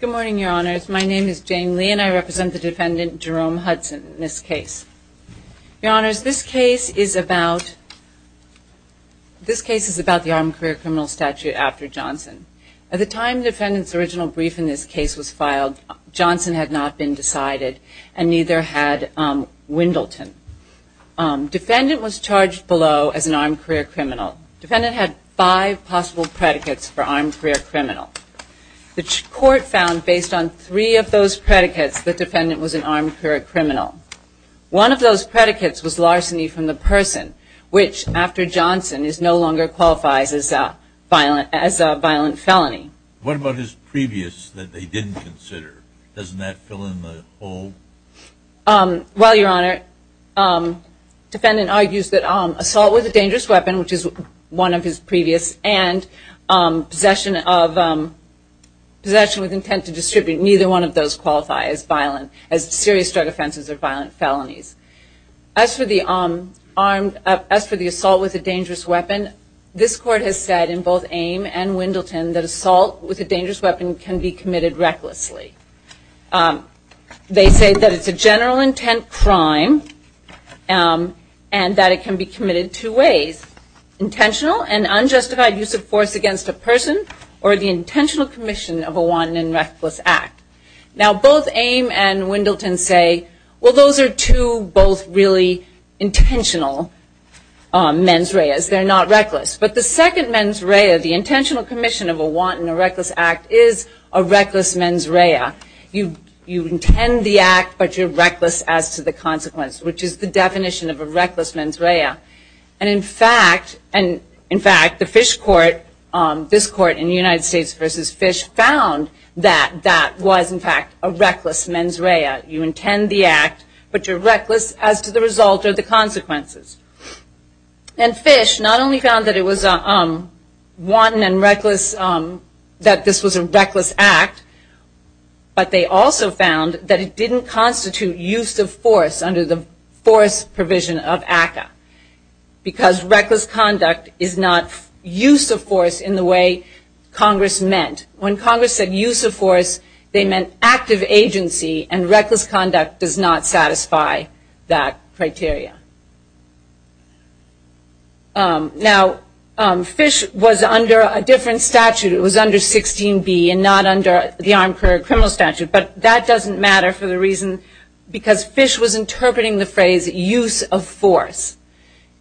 Good morning, Your Honors. My name is Jane Lee, and I represent the defendant, Jerome Hudson, in this case. Your Honors, this case is about the armed career criminal statute after Johnson. At the time the defendant's original brief in this case was filed, Johnson had not been decided, and neither had Wendleton. Defendant was charged below as an armed career criminal. Defendant had five possible predicates for armed career criminal. The court found, based on three of those predicates, the defendant was an armed career criminal. One of those predicates was larceny from the person, which, after Johnson, no longer qualifies as a violent felony. What about his previous that they didn't consider? Doesn't that fill in the hole? Well, Your Honor, defendant argues that assault with a dangerous weapon, which is one of his previous, and possession of, possession with intent to distribute, neither one of those qualify as violent, as serious drug offenses or violent felonies. As for the armed, as for the assault with a dangerous weapon, this court has said, in both Ame and Wendleton, that assault with a dangerous weapon can be committed recklessly. They say that it's a general intent crime, and that it can be committed two ways. Intentional and unjustified use of force against a person, or the intentional commission of a wanton and reckless act. Now, both Ame and Wendleton say, well, those are two both really intentional mens reas. They're not reckless. But the second mens rea, the intentional commission of a wanton or reckless act, is a reckless mens rea. You intend the act, but you're reckless as to the consequence, which is the definition of a reckless mens rea. And, in fact, the Fish Court, this court in the United States versus Fish, found that that was, in fact, a reckless mens rea. You intend the act, but you're reckless as to the result or the consequences. And Fish not only found that it was a wanton and reckless, that this was a reckless act, but they also found that it didn't constitute use of force under the force provision of ACCA. Because reckless conduct is not use of force in the way Congress meant. When Congress said use of force, they meant active agency, and reckless conduct does not satisfy that criteria. Now, Fish was under a different statute. It was under 16B and not under the Armed Career Criminal Statute. But that doesn't matter for the reason because Fish was interpreting the phrase use of force.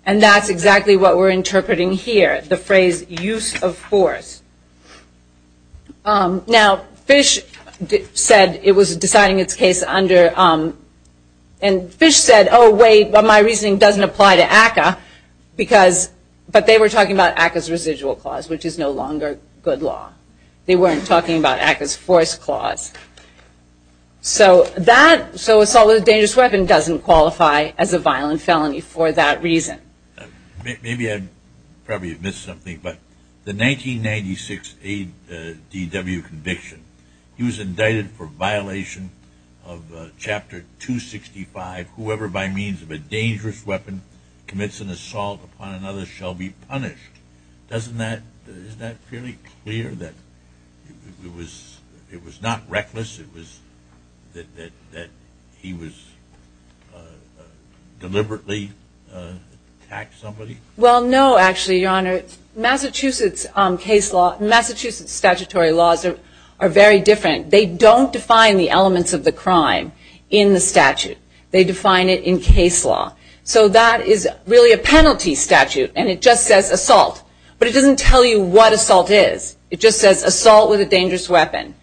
And that's exactly what we're interpreting here, the phrase use of force. Now, Fish said it was deciding its case under, and Fish said, oh, wait, my reasoning doesn't apply to ACCA. Because, but they were talking about ACCA's residual clause, which is no longer good law. They weren't talking about ACCA's force clause. So that, so assault with a dangerous weapon doesn't qualify as a violent felony for that reason. Maybe I probably missed something, but the 1996 ADW conviction, he was indicted for violation of Chapter 265, whoever by means of a dangerous weapon commits an assault upon another shall be punished. Doesn't that, isn't that fairly clear that it was, it was not reckless, it was that he was deliberately attacked somebody? Well, no, actually, Your Honor. Massachusetts case law, Massachusetts statutory laws are very different. They don't define the elements of the crime in the statute. They define it in case law. So that is really a penalty statute, and it just says assault. But it doesn't tell you what assault is. It just says assault with a dangerous weapon.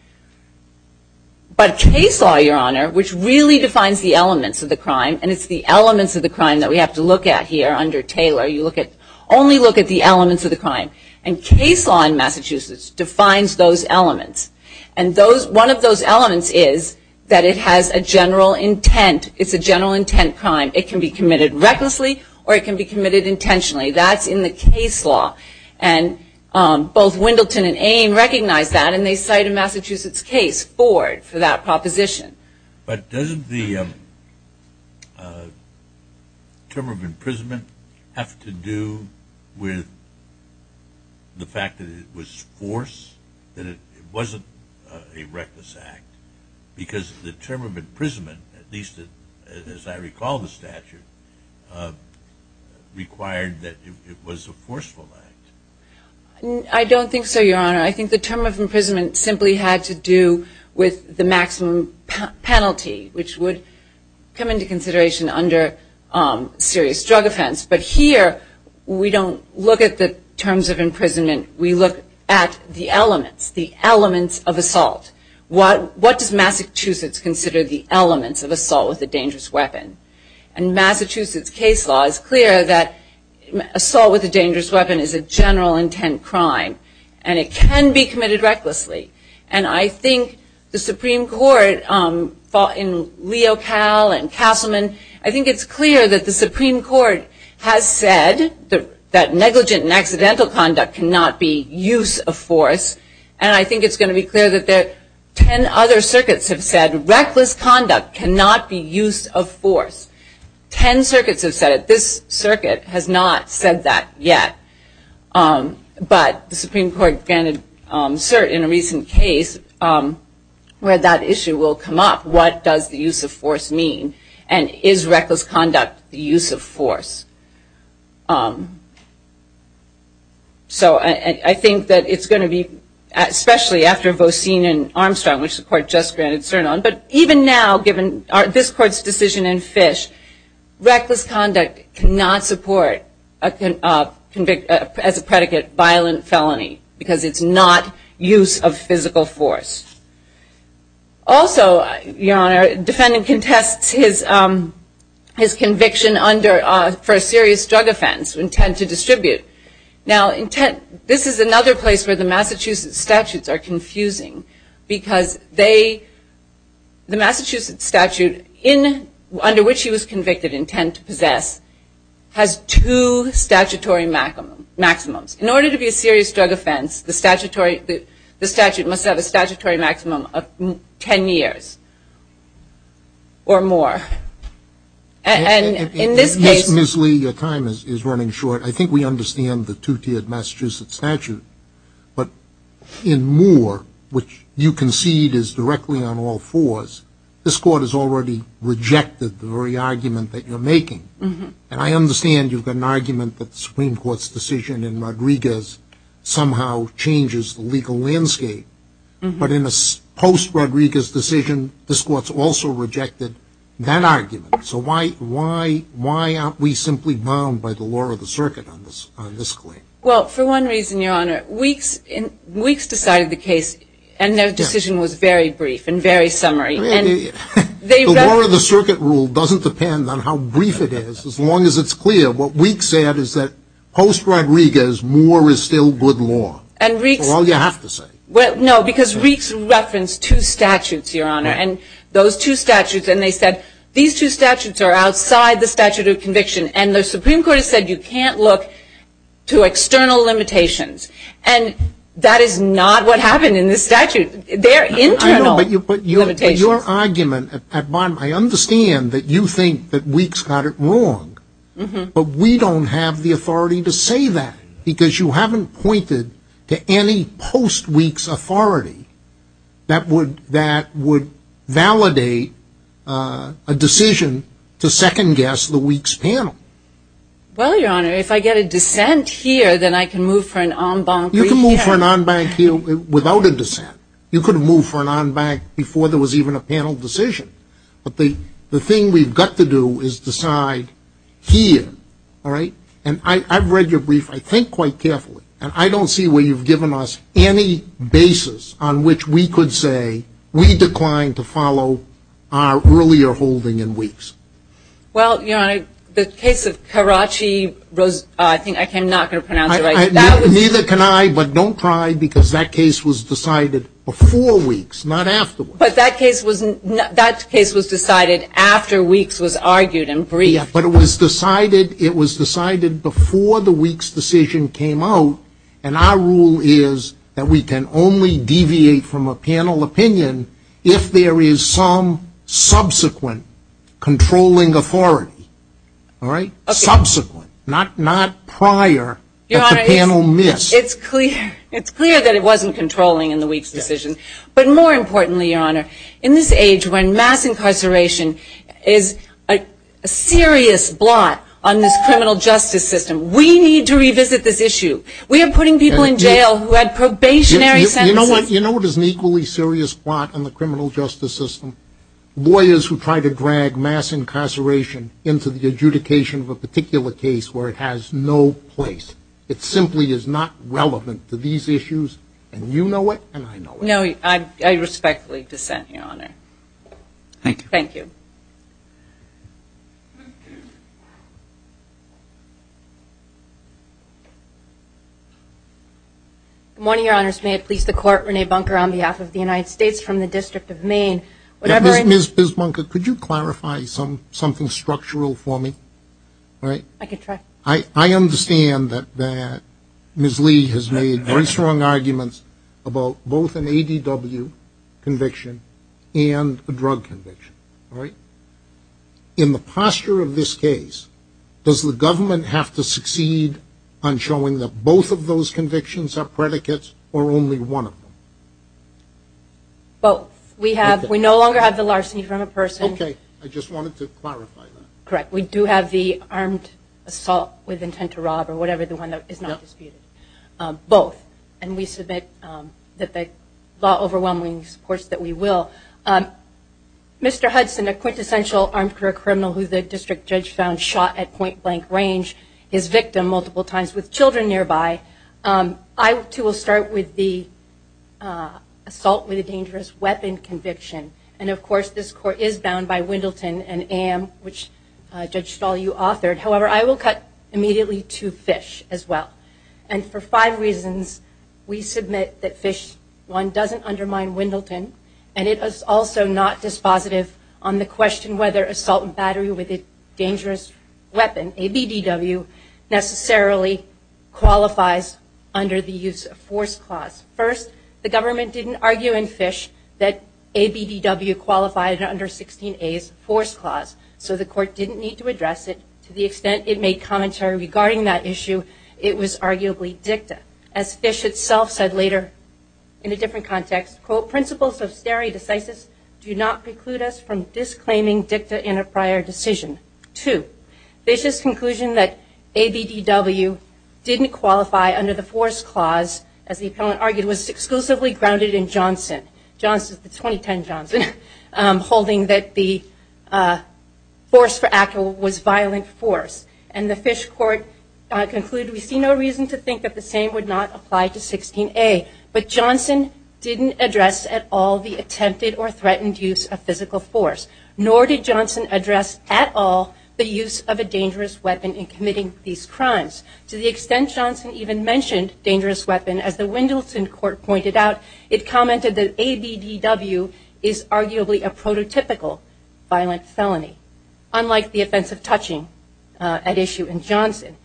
But case law, Your Honor, which really defines the elements of the crime, and it's the elements of the crime that we have to look at here under Taylor. You look at, only look at the elements of the crime. And case law in Massachusetts defines those elements. And those, one of those elements is that it has a general intent. It's a general intent crime. It can be committed recklessly, or it can be committed intentionally. That's in the case law. And both Wendelton and Ame recognize that, and they cite a Massachusetts case, Ford, for that proposition. But doesn't the term of imprisonment have to do with the fact that it was forced? That it wasn't a reckless act? Because the term of imprisonment, at least as I recall the statute, required that it was a forceful act. I don't think so, Your Honor. I think the term of imprisonment simply had to do with the maximum penalty, which would come into consideration under serious drug offense. But here, we don't look at the terms of imprisonment. We look at the elements, the elements of assault. What does Massachusetts consider the elements of assault with a dangerous weapon? And Massachusetts case law is clear that assault with a dangerous weapon is a general intent crime. And it can be committed recklessly. And I think the Supreme Court, in Leocal and Castleman, I think it's clear that the Supreme Court has said that negligent and accidental conduct cannot be use of force. And I think it's going to be clear that ten other circuits have said reckless conduct cannot be use of force. Ten circuits have said it. This circuit has not said that yet. But the Supreme Court granted cert in a recent case where that issue will come up. What does the use of force mean? And is reckless conduct the use of force? So I think that it's going to be, especially after Vosine and Armstrong, which the court just granted cert on. But even now, given this court's decision in Fish, reckless conduct cannot support, as a predicate, violent felony. Because it's not use of physical force. Also, your honor, defendant contests his conviction for a serious drug offense, intent to distribute. Now, this is another place where the Massachusetts statutes are confusing. Because they, the Massachusetts statute under which he was convicted, intent to possess, has two statutory maximums. In order to be a serious drug offense, the statute must have a statutory maximum of ten years. Or more. And in this case- Yes, Ms. Lee, your time is running short. I think we understand the two-tiered Massachusetts statute. But in Moore, which you concede is directly on all fours, this court has already rejected the very argument that you're making. And I understand you've got an argument that the Supreme Court's decision in Rodriguez somehow changes the legal landscape. But in a post-Rodriguez decision, this court's also rejected that argument. So why aren't we simply bound by the law of the circuit on this claim? Well, for one reason, your honor. Weeks decided the case, and their decision was very brief and very summary. The law of the circuit rule doesn't depend on how brief it is, as long as it's clear. What Weeks said is that post-Rodriguez, Moore is still good law. For all you have to say. Well, no, because Weeks referenced two statutes, your honor. And those two statutes, and they said, these two statutes are outside the statute of conviction. And the Supreme Court has said you can't look to external limitations. And that is not what happened in this statute. Their internal limitations- I know, but your argument at bottom, I understand that you think that Weeks got it wrong. But we don't have the authority to say that. Because you haven't pointed to any post-Weeks authority that would validate a decision to second-guess the Weeks panel. Well, your honor, if I get a dissent here, then I can move for an en banc- You can move for an en banc here without a dissent. You could have moved for an en banc before there was even a panel decision. But the thing we've got to do is decide here. And I've read your brief, I think, quite carefully. And I don't see where you've given us any basis on which we could say we declined to follow our earlier holding in Weeks. Well, your honor, the case of Karachi- I think I'm not going to pronounce it right. Neither can I, but don't try, because that case was decided before Weeks, not afterwards. But that case was decided after Weeks was argued and briefed. But it was decided before the Weeks decision came out. And our rule is that we can only deviate from a panel opinion if there is some subsequent controlling authority. Subsequent, not prior that the panel missed. It's clear that it wasn't controlling in the Weeks decision. But more importantly, your honor, in this age when mass incarceration is a serious blot on this criminal justice system, we need to revisit this issue. We are putting people in jail who had probationary sentences- You know what is an equally serious blot on the criminal justice system? Lawyers who try to drag mass incarceration into the adjudication of a particular case where it has no place. It simply is not relevant to these issues. And you know it, and I know it. No, I respectfully dissent, your honor. Thank you. Thank you. Good morning, your honors. May it please the court, Renee Bunker on behalf of the United States from the District of Maine. Ms. Bunker, could you clarify something structural for me? I can try. I understand that Ms. Lee has made very strong arguments about both an ADW conviction and a drug conviction, right? In the posture of this case, does the government have to succeed on showing that both of those convictions are predicates or only one of them? Both. We no longer have the larceny from a person- Okay, I just wanted to clarify that. Correct. We do have the armed assault with intent to rob or whatever the one that is not disputed. Both. And we submit that the law overwhelmingly supports that we will. Mr. Hudson, a quintessential armed career criminal who the district judge found shot at point-blank range, his victim multiple times with children nearby, I too will start with the assault with a dangerous weapon conviction. And of course, this court is bound by Wendelton and Am, which Judge Stahl, you authored. However, I will cut immediately to Fish as well. And for five reasons, we submit that Fish, one, doesn't undermine Wendelton, and it is also not dispositive on the question whether assault and battery with a dangerous weapon, ABDW, necessarily qualifies under the use of force clause. First, the government didn't argue in Fish that ABDW qualified under 16A's force clause, so the court didn't need to address it to the extent it made commentary regarding that issue. It was arguably dicta. As Fish itself said later in a different context, quote, principles of stare decisis do not preclude us from disclaiming dicta in a prior decision. Two, Fish's conclusion that ABDW didn't qualify under the force clause, as the appellant argued, was exclusively grounded in Johnson, the 2010 Johnson, holding that the force for actual was violent force. And the Fish court concluded, we see no reason to think that the same would not apply to 16A. But Johnson didn't address at all the attempted or threatened use of physical force, nor did Johnson address at all the use of a dangerous weapon in committing these crimes. To the extent Johnson even mentioned dangerous weapon, as the Wendelton court pointed out, it commented that ABDW is arguably a prototypical violent felony, unlike the offense of touching at issue in Johnson.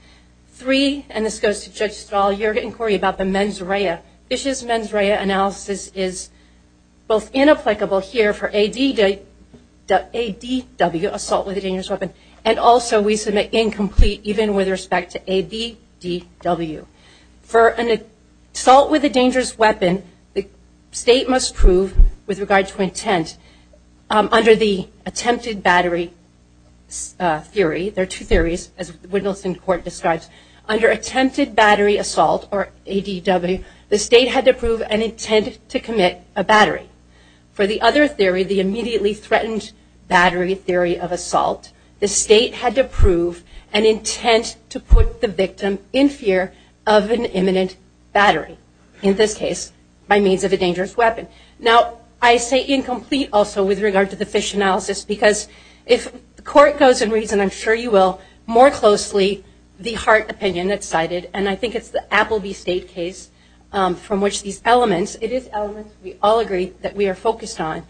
Three, and this goes to Judge Stahl, your inquiry about the mens rea, Fish's mens rea analysis is both inapplicable here for ADW, assault with a dangerous weapon, and also we submit incomplete even with respect to ABDW. For an assault with a dangerous weapon, the state must prove, with regard to intent, under the attempted battery theory, there are two theories, as Wendelton court describes, under attempted battery assault, or ADW, the state had to prove an intent to commit a battery. For the other theory, the immediately threatened battery theory of assault, the state had to prove an intent to put the victim in fear of an imminent battery. In this case, by means of a dangerous weapon. Now, I say incomplete also with regard to the Fish analysis, because if the court goes and reads, and I'm sure you will, more closely, the Hart opinion that's cited, and I think it's the Appleby State case, from which these elements, it is elements we all agree that we are focused on,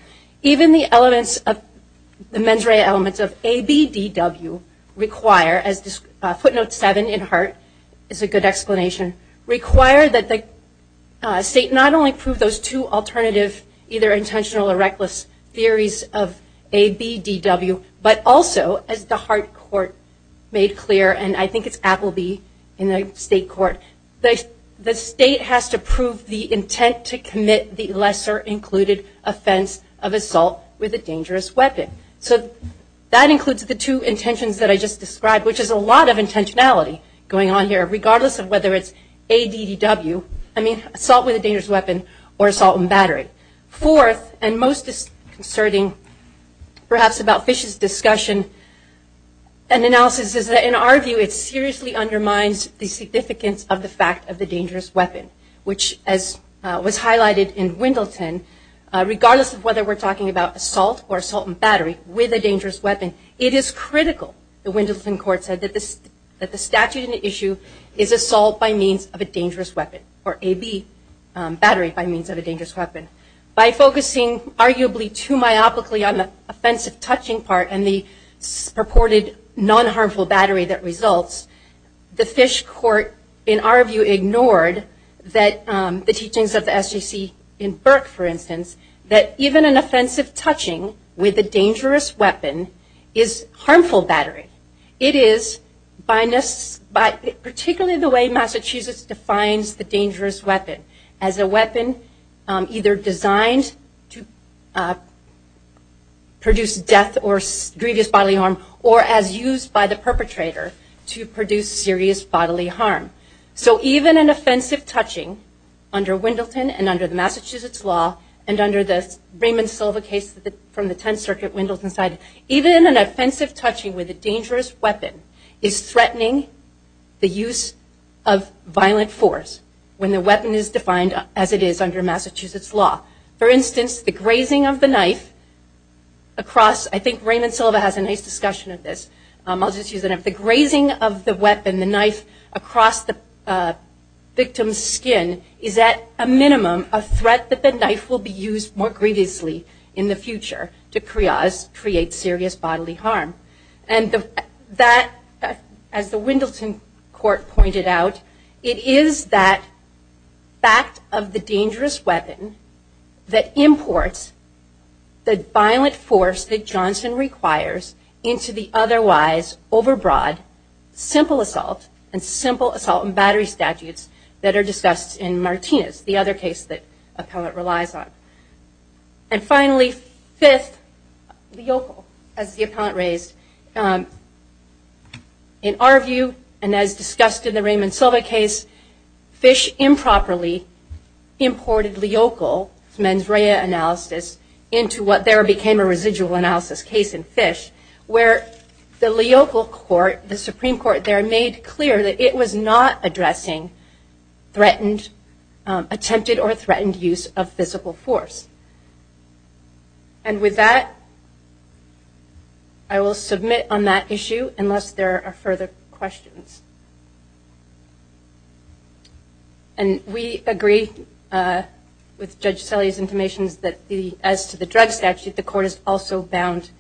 even the elements of, the mens rea elements of ABDW require, as footnote seven in Hart is a good explanation, require that the state not only prove those two alternative, either intentional or reckless theories of ABDW, but also, as the Hart court made clear, and I think it's Appleby in the state court, the state has to prove the intent to commit the lesser included offense of assault with a dangerous weapon. So that includes the two intentions that I just described, which is a lot of intentionality going on here, regardless of whether it's ADW, I mean, assault with a dangerous weapon, or assault and battery. Fourth, and most disconcerting, perhaps about Fish's discussion and analysis, is that in our view it seriously undermines the significance of the fact of the dangerous weapon, which, as was highlighted in Wendleton, regardless of whether we're talking about assault or assault and battery with a dangerous weapon, it is critical, the Wendleton court said, that the statute in issue is assault by means of a dangerous weapon, or AB, battery by means of a dangerous weapon. By focusing arguably too myopically on the offensive touching part and the purported non-harmful battery that results, the Fish court, in our view, ignored the teachings of the SJC in Burke, for instance, that even an offensive touching with a dangerous weapon is harmful battery. It is, particularly the way Massachusetts defines the dangerous weapon, as a weapon either designed to produce death or grievous bodily harm, or as used by the perpetrator to produce serious bodily harm. So even an offensive touching under Wendleton and under the Massachusetts law, and under the Raymond Silva case from the Tenth Circuit, Wendleton's side, even an offensive touching with a dangerous weapon is threatening the use of violent force when the weapon is defined as it is under Massachusetts law. For instance, the grazing of the knife across, I think Raymond Silva has a nice discussion of this, I'll just use it, the grazing of the weapon, the knife across the victim's skin, is at a minimum a threat that the knife will be used more grievously in the future to create serious bodily harm. And that, as the Wendleton court pointed out, it is that fact of the dangerous weapon that imports the violent force that Johnson requires into the otherwise overbroad simple assault and simple assault and battery statutes that are discussed in Martinez, the other case that Appellate relies on. And finally, fifth, Leocal, as the Appellant raised. In our view, and as discussed in the Raymond Silva case, Fish improperly imported Leocal's mens rea analysis into what there became a residual analysis case in Fish, where the Leocal court, the Supreme Court there, made clear that it was not addressing threatened, attempted or threatened use of physical force. And with that, I will submit on that issue unless there are further questions. And we agree with Judge Selle's information that as to the drug statute, the court is also bound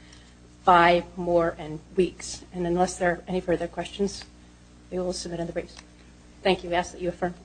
by more and weeks. And unless there are any further questions, we will submit in the briefs. Thank you. I ask that you affirm.